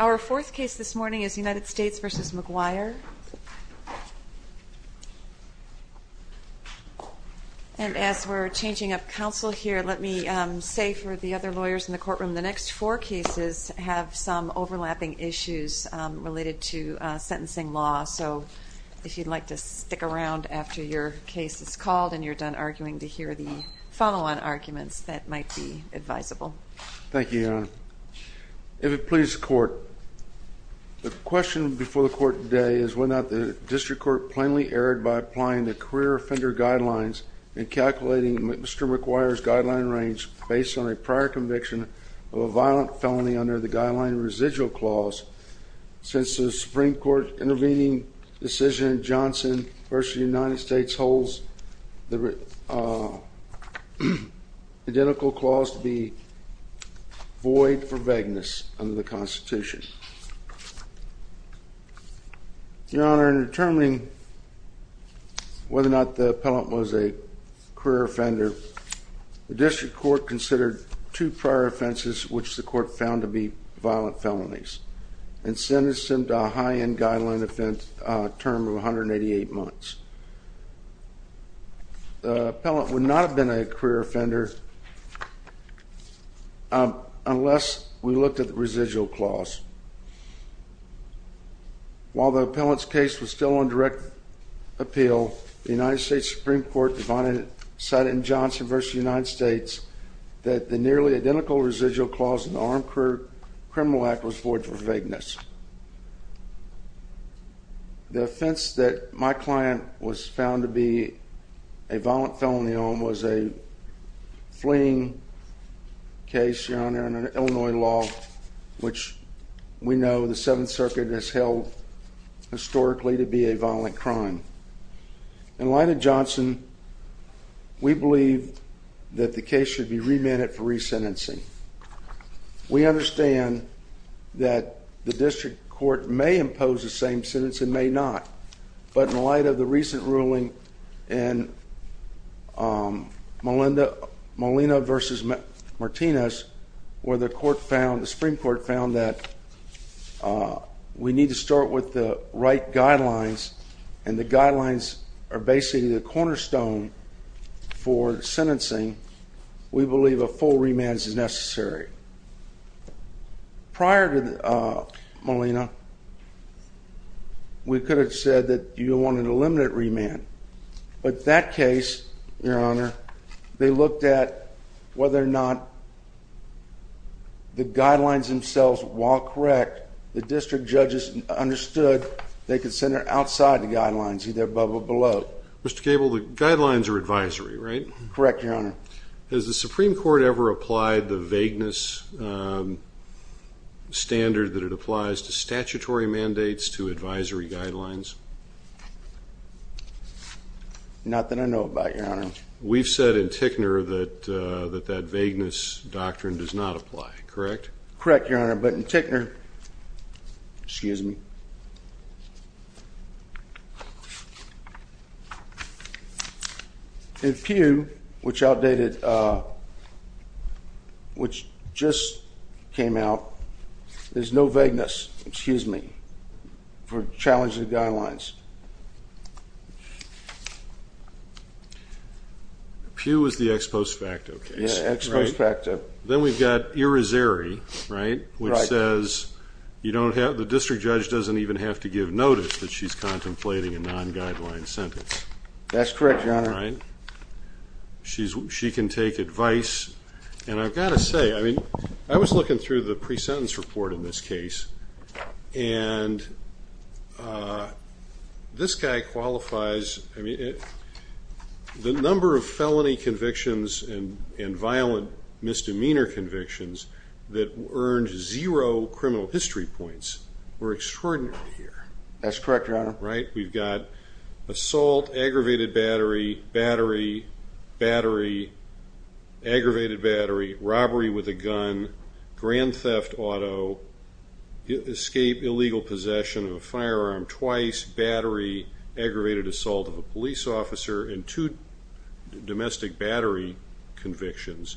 Our fourth case this morning is United States v. McGuire. And as we're changing up counsel here, let me say for the other lawyers in the courtroom, the next four cases have some overlapping issues related to sentencing law. So if you'd like to stick around after your case is called and you're done arguing to hear the follow-on arguments, that might be advisable. Thank you, Your Honor. If it pleases the Court, the question before the Court today is whether or not the district court plainly erred by applying the career offender guidelines and calculating Mr. McGuire's guideline range based on a prior conviction of a violent felony under the guideline residual clause. Since the Supreme Court intervening decision in Johnson v. United States holds the identical clause to be void for vagueness under the Constitution. Your Honor, in determining whether or not the appellant was a career offender, the district court considered two prior offenses which the court found to be violent felonies and sentenced them to a high-end guideline term of 188 months. The appellant would not have been a career offender unless we looked at the residual clause. While the appellant's case was still on direct appeal, the United States Supreme Court decided in Johnson v. United States that the nearly identical residual clause in the Armed Career Criminal Act was void for vagueness. The offense that my client was found to be a violent felony on was a fleeing case, Your Honor, under Illinois law, which we know the Seventh Circuit has held historically to be a violent crime. In light of Johnson, we believe that the case should be remanded for resentencing. We understand that the district court may impose the same sentence and may not, but in light of the recent ruling in Molina v. Martinez, where the Supreme Court found that we need to start with the right guidelines and the guidelines are basically the cornerstone for sentencing, we believe a full remand is necessary. Prior to Molina, we could have said that you wanted a limited remand, but that case, Your Honor, they looked at whether or not the guidelines themselves, while correct, the district judges understood they could send it outside the guidelines, either above or below. Mr. Cable, the guidelines are advisory, right? Correct, Your Honor. Has the Supreme Court ever applied the vagueness standard that it applies to statutory mandates to advisory guidelines? Not that I know about, Your Honor. We've said in Tickner that that vagueness doctrine does not apply, correct? Correct, Your Honor. But in Tickner, excuse me, in Pew, which outdated, which just came out, there's no vagueness, excuse me, for challenging the guidelines. Pew was the ex post facto case, right? Yeah, ex post facto. Then we've got Irizarry, right? Right. Which says the district judge doesn't even have to give notice that she's contemplating a non-guideline sentence. That's correct, Your Honor. Right? She can take advice. And I've got to say, I mean, I was looking through the pre-sentence report in this case, and this guy qualifies, I mean, the number of felony convictions and violent misdemeanor convictions that earned zero criminal history points were extraordinary here. That's correct, Your Honor. Right? We've got assault, aggravated battery, battery, battery, aggravated battery, robbery with a gun, grand theft auto, escape, illegal possession of a firearm twice, battery, aggravated assault of a police officer, and two domestic battery convictions,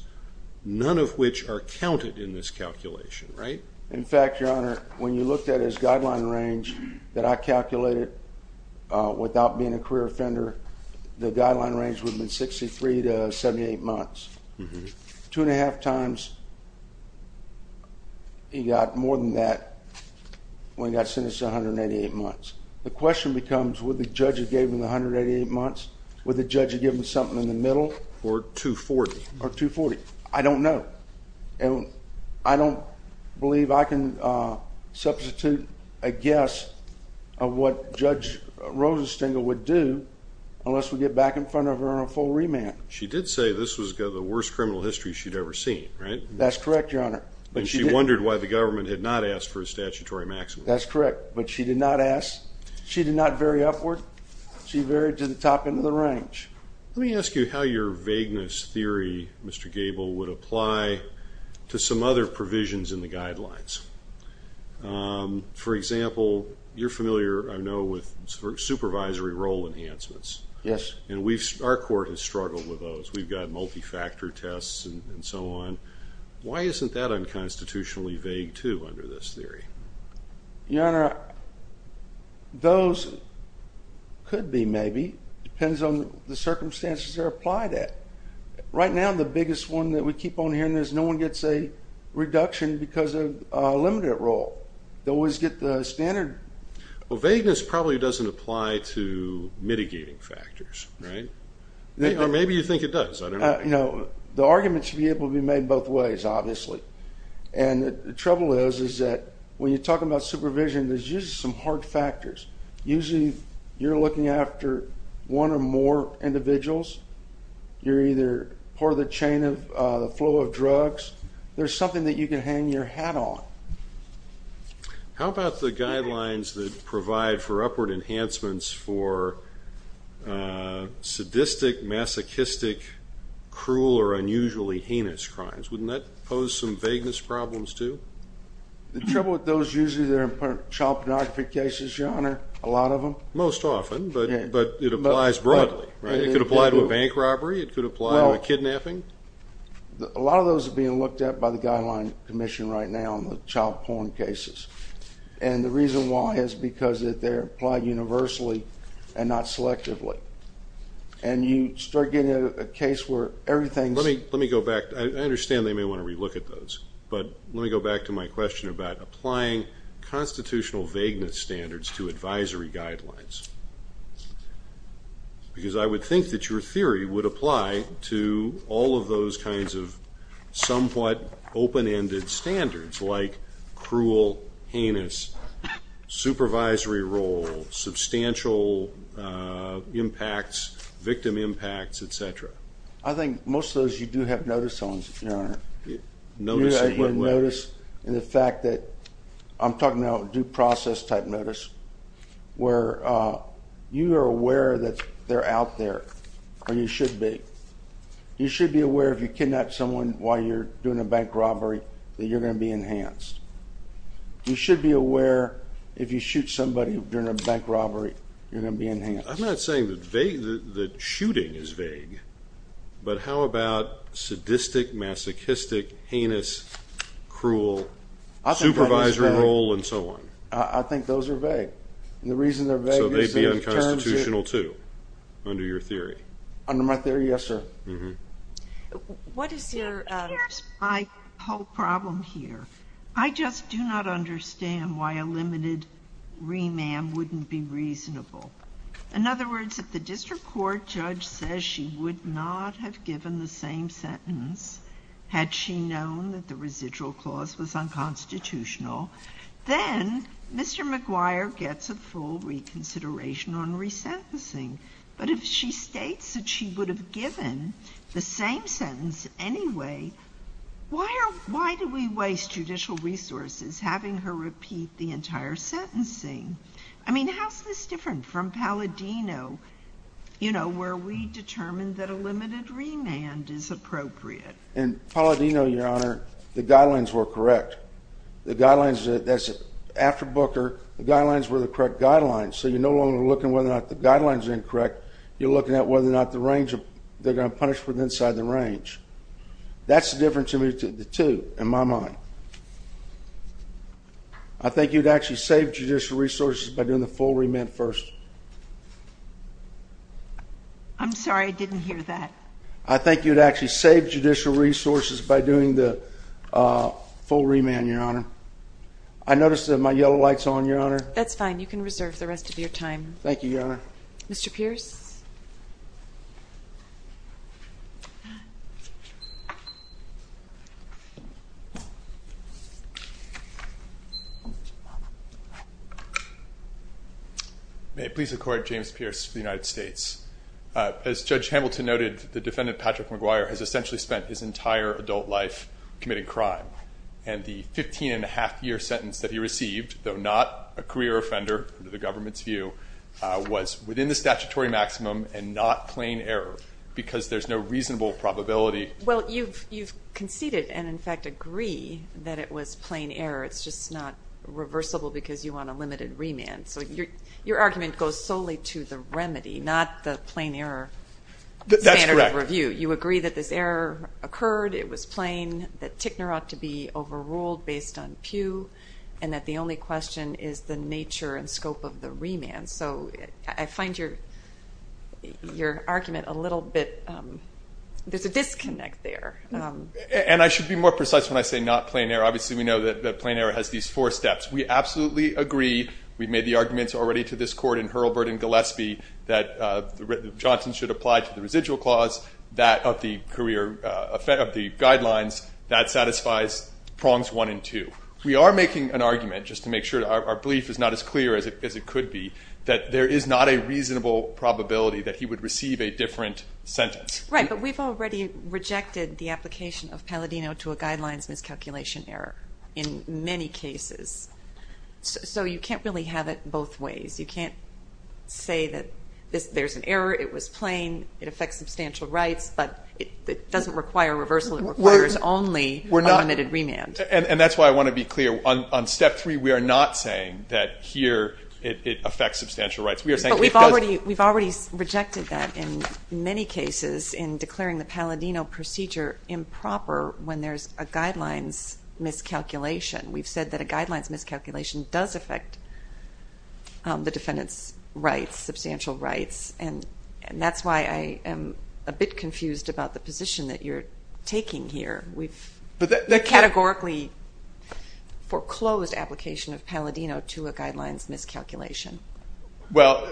none of which are counted in this calculation, right? In fact, Your Honor, when you looked at his guideline range that I calculated without being a career offender, the guideline range would have been 63 to 78 months. Two and a half times he got more than that when he got sentenced to 188 months. The question becomes, would the judge have gave him the 188 months? Would the judge have given him something in the middle? Or 240. Or 240. I don't know. And I don't believe I can substitute a guess of what Judge Rosenstengel would do unless we get back in front of her on a full remand. She did say this was the worst criminal history she'd ever seen, right? That's correct, Your Honor. And she wondered why the government had not asked for a statutory maximum. That's correct. But she did not ask. She did not vary upward. She varied to the top end of the range. Let me ask you how your vagueness theory, Mr. Gable, would apply to some other provisions in the guidelines. For example, you're familiar, I know, with supervisory role enhancements. Yes. And our court has struggled with those. We've got multi-factor tests and so on. Why isn't that unconstitutionally vague, too, under this theory? Your Honor, those could be, maybe. It depends on the circumstances they're applied at. Right now, the biggest one that we keep on hearing is no one gets a reduction because of a limited role. They always get the standard. Well, vagueness probably doesn't apply to mitigating factors, right? Or maybe you think it does. I don't know. You know, the argument should be able to be made both ways, obviously. And the trouble is that when you're talking about supervision, there's usually some hard factors. Usually you're looking after one or more individuals. You're either part of the chain of the flow of drugs. There's something that you can hang your hat on. How about the guidelines that provide for upward enhancements for sadistic, masochistic, cruel, or unusually heinous crimes? Wouldn't that pose some vagueness problems, too? The trouble with those, usually they're in child pornography cases, Your Honor, a lot of them. Most often, but it applies broadly, right? It could apply to a bank robbery. It could apply to a kidnapping. A lot of those are being looked at by the Guideline Commission right now in the child porn cases. And the reason why is because they're applied universally and not selectively. And you start getting a case where everything's— Let me go back. I understand they may want to relook at those. But let me go back to my question about applying constitutional vagueness standards to advisory guidelines. Because I would think that your theory would apply to all of those kinds of somewhat open-ended standards like cruel, heinous, supervisory role, substantial impacts, victim impacts, et cetera. I think most of those you do have notice on, Your Honor. Notice of what? In the fact that I'm talking about due process type notice where you are aware that they're out there, or you should be. You should be aware if you kidnap someone while you're doing a bank robbery that you're going to be enhanced. You should be aware if you shoot somebody during a bank robbery, you're going to be enhanced. I'm not saying that shooting is vague. But how about sadistic, masochistic, heinous, cruel, supervisory role, and so on? I think those are vague. And the reason they're vague is because— So they'd be unconstitutional, too, under your theory. Under my theory, yes, sir. What is your— Here's my whole problem here. I just do not understand why a limited remand wouldn't be reasonable. In other words, if the district court judge says she would not have given the same sentence had she known that the residual clause was unconstitutional, then Mr. McGuire gets a full reconsideration on resentencing. But if she states that she would have given the same sentence anyway, why do we waste judicial resources having her repeat the entire sentencing? I mean, how is this different from Palladino, you know, where we determined that a limited remand is appropriate? In Palladino, Your Honor, the guidelines were correct. The guidelines—that's after Booker. The guidelines were the correct guidelines. So you're no longer looking whether or not the guidelines are incorrect. You're looking at whether or not the range—they're going to punish within the range. That's the difference between the two, in my mind. I think you'd actually save judicial resources by doing the full remand first. I'm sorry, I didn't hear that. I think you'd actually save judicial resources by doing the full remand, Your Honor. I noticed that my yellow light's on, Your Honor. That's fine. You can reserve the rest of your time. Thank you, Your Honor. Mr. Pierce? May it please the Court, James Pierce for the United States. As Judge Hamilton noted, the defendant, Patrick McGuire, has essentially spent his entire adult life committing crime. And the 15-and-a-half-year sentence that he received, though not a career offender under the government's view, was within the statutory maximum and not plain error because there's no reasonable probability— Well, you've conceded and, in fact, agree that it was plain error. It's just not reversible because you want a limited remand. So your argument goes solely to the remedy, not the plain error standard of review. That's correct. You agree that this error occurred, it was plain, that Tickner ought to be overruled based on Pew, and that the only question is the nature and scope of the remand. So I find your argument a little bit—there's a disconnect there. And I should be more precise when I say not plain error. Obviously, we know that plain error has these four steps. We absolutely agree—we've made the arguments already to this Court in Hurlburt and Gillespie— that Johnson should apply to the residual clause of the guidelines. That satisfies prongs one and two. We are making an argument, just to make sure our belief is not as clear as it could be, that there is not a reasonable probability that he would receive a different sentence. Right, but we've already rejected the application of Palladino to a guidelines miscalculation error in many cases. So you can't really have it both ways. You can't say that there's an error, it was plain, it affects substantial rights, but it doesn't require reversal. It requires only a limited remand. And that's why I want to be clear. On step three, we are not saying that here it affects substantial rights. But we've already rejected that in many cases in declaring the Palladino procedure improper when there's a guidelines miscalculation. We've said that a guidelines miscalculation does affect the defendant's rights, substantial rights. And that's why I am a bit confused about the position that you're taking here. We've categorically foreclosed application of Palladino to a guidelines miscalculation. Well,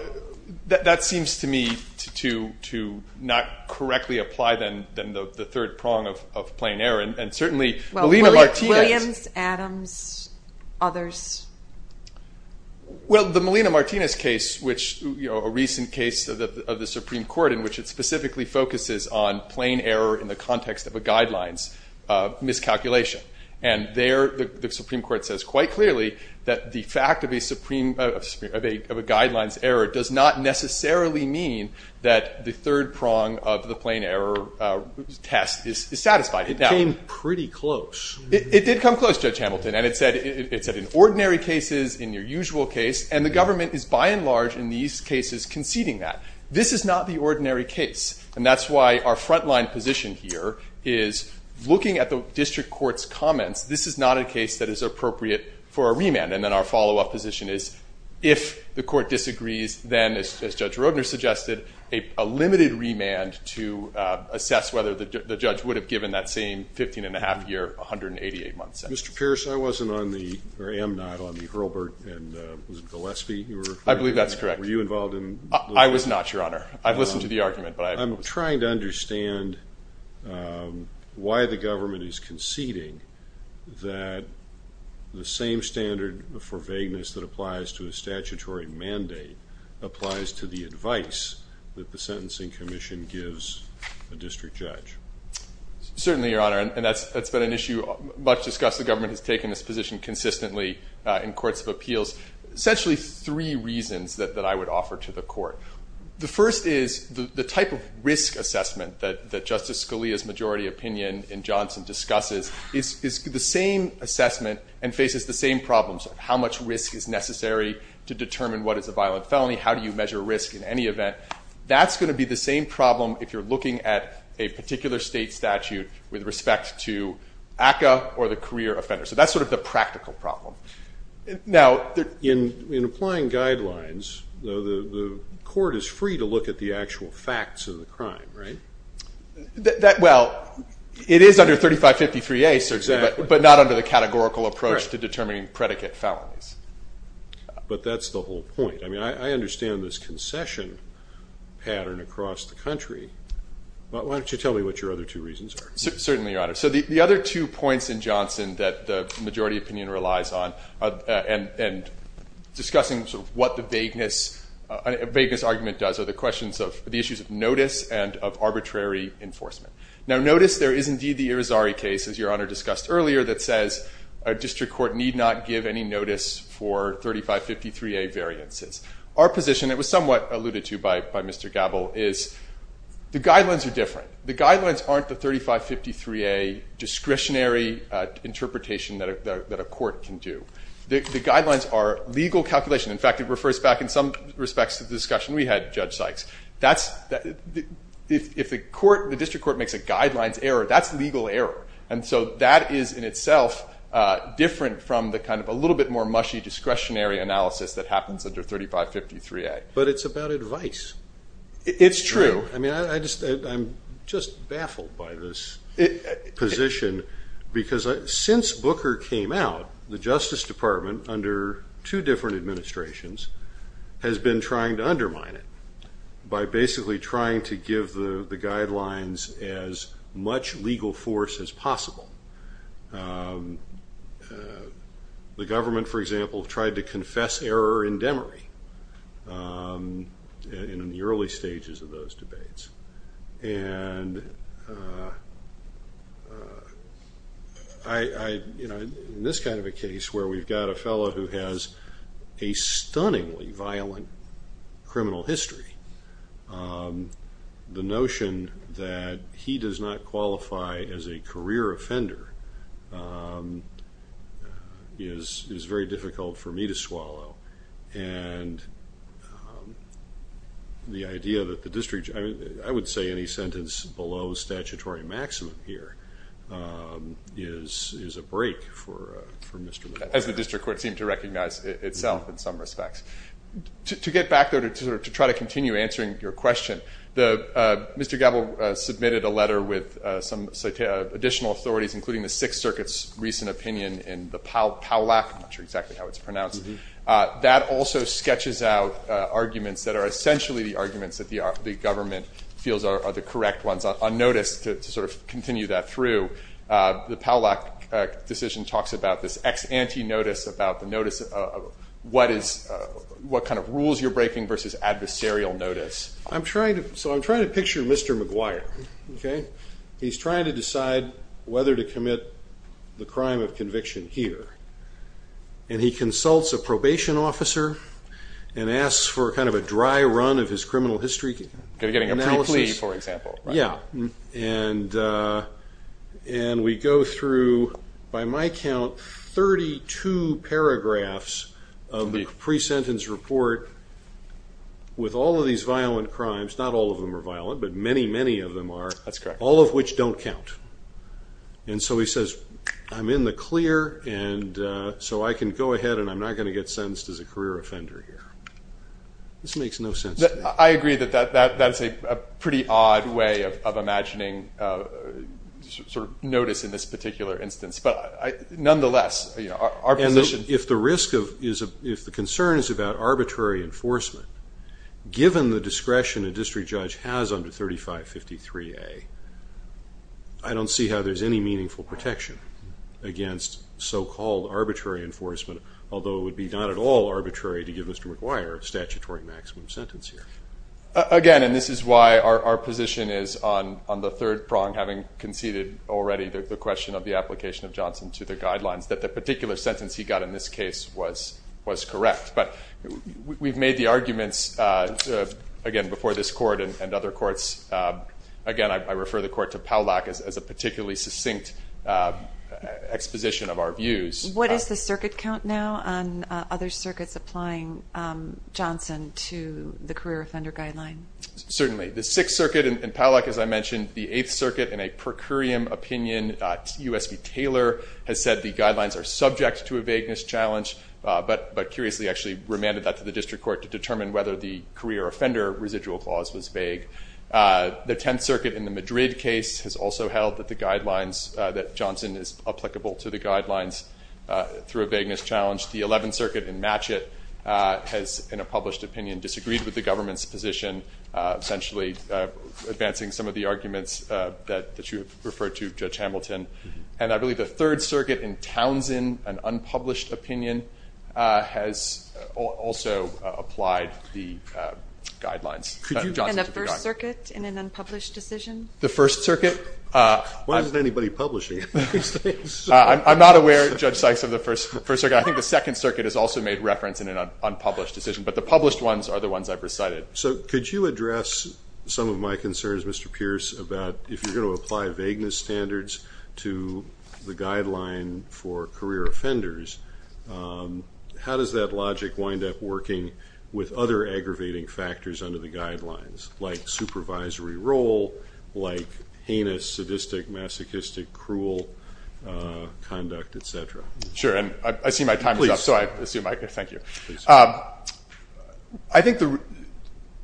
that seems to me to not correctly apply than the third prong of plain error. And certainly Molina-Martinez. Williams, Adams, others. Well, the Molina-Martinez case, which, you know, a recent case of the Supreme Court in which it specifically focuses on plain error in the context of a guidelines miscalculation. And there the Supreme Court says quite clearly that the fact of a guidelines error does not necessarily mean that the third prong of the plain error test is satisfied. It came pretty close. It did come close, Judge Hamilton. And it said in ordinary cases, in your usual case. And the government is by and large in these cases conceding that. This is not the ordinary case. And that's why our frontline position here is looking at the district court's comments. This is not a case that is appropriate for a remand. And then our follow-up position is if the court disagrees, then, as Judge Roedner suggested, a limited remand to assess whether the judge would have given that same 15-and-a-half-year, 188-month sentence. Mr. Pierce, I wasn't on the or am not on the Hurlburt and was it Gillespie? I believe that's correct. Were you involved in? I was not, Your Honor. I've listened to the argument. I'm trying to understand why the government is conceding that the same standard for vagueness that applies to a statutory mandate applies to the advice that the Sentencing Commission gives a district judge. Certainly, Your Honor. And that's been an issue much discussed. The government has taken this position consistently in courts of appeals. Essentially three reasons that I would offer to the court. The first is the type of risk assessment that Justice Scalia's majority opinion in Johnson discusses is the same assessment and faces the same problems of how much risk is necessary to determine what is a violent felony, how do you measure risk in any event. That's going to be the same problem if you're looking at a particular state statute with respect to ACCA or the career offender. So that's sort of the practical problem. Now, in applying guidelines, the court is free to look at the actual facts of the crime, right? Well, it is under 3553A, but not under the categorical approach to determining predicate felonies. But that's the whole point. I mean, I understand this concession pattern across the country. Why don't you tell me what your other two reasons are? Certainly, Your Honor. So the other two points in Johnson that the majority opinion relies on and discussing sort of what the vagueness argument does are the questions of the issues of notice and of arbitrary enforcement. Now, notice there is indeed the Irizarry case, as Your Honor discussed earlier, that says a district court need not give any notice for 3553A variances. Our position, it was somewhat alluded to by Mr. Gabel, is the guidelines are different. The guidelines aren't the 3553A discretionary interpretation that a court can do. The guidelines are legal calculation. In fact, it refers back in some respects to the discussion we had, Judge Sykes. If the district court makes a guidelines error, that's legal error. And so that is in itself different from the kind of a little bit more mushy discretionary analysis that happens under 3553A. But it's about advice. It's true. I mean, I'm just baffled by this position because since Booker came out, the Justice Department under two different administrations has been trying to undermine it by basically trying to give the guidelines as much legal force as possible. The government, for example, tried to confess error in Demery in the early stages of those debates. And in this kind of a case where we've got a fellow who has a stunningly violent criminal history, the notion that he does not qualify as a career offender is very difficult for me to swallow. And the idea that the district – I would say any sentence below statutory maximum here is a break for Mr. Little. As the district court seemed to recognize itself in some respects. To get back there, to try to continue answering your question, Mr. Gabel submitted a letter with some additional authorities, including the Sixth Circuit's recent opinion in the Powlack. I'm not sure exactly how it's pronounced. That also sketches out arguments that are essentially the arguments that the government feels are the correct ones. On notice, to sort of continue that through, the Powlack decision talks about this ex-ante notice, about the notice of what kind of rules you're breaking versus adversarial notice. So I'm trying to picture Mr. McGuire. He's trying to decide whether to commit the crime of conviction here. And he consults a probation officer and asks for kind of a dry run of his criminal history. Getting a pre-plea, for example. Yeah. And we go through, by my count, 32 paragraphs of the pre-sentence report with all of these violent crimes. Not all of them are violent, but many, many of them are. That's correct. All of which don't count. And so he says, I'm in the clear, and so I can go ahead, and I'm not going to get sentenced as a career offender here. This makes no sense to me. I agree that that's a pretty odd way of imagining sort of notice in this particular instance. But nonetheless, our position. If the concern is about arbitrary enforcement, given the discretion a district judge has under 3553A, I don't see how there's any meaningful protection against so-called arbitrary enforcement, although it would be not at all arbitrary to give Mr. McGuire a statutory maximum sentence here. Again, and this is why our position is on the third prong, having conceded already the question of the application of Johnson to the guidelines, that the particular sentence he got in this case was correct. But we've made the arguments, again, before this court and other courts. Again, I refer the court to Powlak as a particularly succinct exposition of our views. What is the circuit count now on other circuits applying Johnson to the career offender guideline? Certainly. The Sixth Circuit, and Powlak, as I mentioned, the Eighth Circuit, in a per curiam opinion, USP Taylor has said the guidelines are subject to a vagueness challenge, but curiously actually remanded that to the district court to determine whether the career offender residual clause was vague. The Tenth Circuit in the Madrid case has also held that the guidelines, that Johnson is applicable to the guidelines through a vagueness challenge. The Eleventh Circuit in Matchett has, in a published opinion, disagreed with the government's position, essentially advancing some of the arguments that you have referred to, Judge Hamilton. And I believe the Third Circuit in Townsend, an unpublished opinion, has also applied the guidelines. And the First Circuit in an unpublished decision? The First Circuit? Why isn't anybody publishing? I'm not aware, Judge Sykes, of the First Circuit. I think the Second Circuit has also made reference in an unpublished decision. But the published ones are the ones I've recited. So could you address some of my concerns, Mr. Pierce, about if you're going to apply vagueness standards to the guideline for career offenders, how does that logic wind up working with other aggravating factors under the guidelines, like supervisory role, like heinous, sadistic, masochistic, cruel conduct, et cetera? Sure, and I see my time is up, so I assume I can. Please. Thank you. I think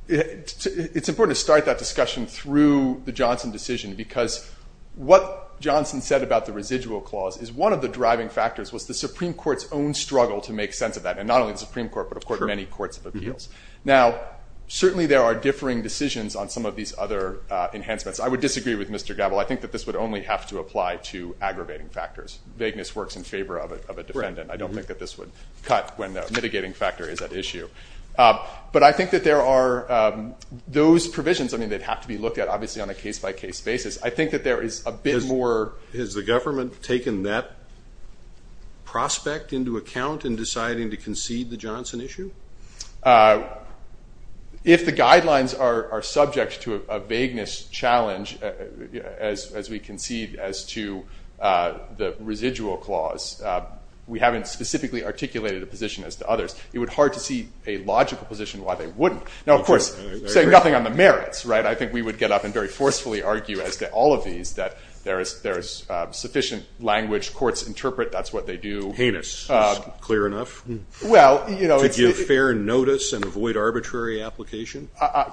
it's important to start that discussion through the Johnson decision because what Johnson said about the residual clause is one of the driving factors was the Supreme Court's own struggle to make sense of that, and not only the Supreme Court but, of course, many courts of appeals. Now, certainly there are differing decisions on some of these other enhancements. I would disagree with Mr. Gabel. I think that this would only have to apply to aggravating factors. Vagueness works in favor of a defendant. I don't think that this would cut when the mitigating factor is at issue. But I think that there are those provisions. I mean, they'd have to be looked at, obviously, on a case-by-case basis. I think that there is a bit more. Has the government taken that prospect into account in deciding to concede the Johnson issue? If the guidelines are subject to a vagueness challenge, as we concede as to the residual clause, we haven't specifically articulated a position as to others. It would be hard to see a logical position why they wouldn't. Now, of course, saying nothing on the merits, right, I think we would get up and very forcefully argue as to all of these that there is sufficient language courts interpret. That's what they do. Heinous is clear enough to give fair notice and avoid arbitrary application.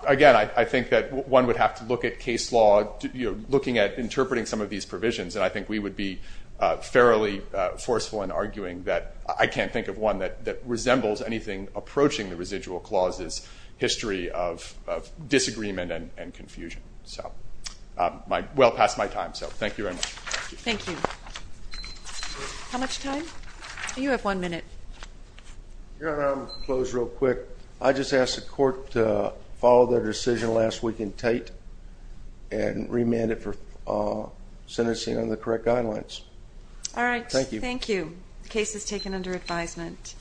Again, I think that one would have to look at case law, looking at interpreting some of these provisions, and I think we would be fairly forceful in arguing that I can't think of one that resembles anything approaching the residual clause's history of disagreement and confusion. So well past my time. So thank you very much. Thank you. How much time? You have one minute. I'm going to close real quick. I just ask the court to follow their decision last week in Tate and remand it for sentencing under the correct guidelines. All right. Thank you. Thank you. The case is taken under advisement.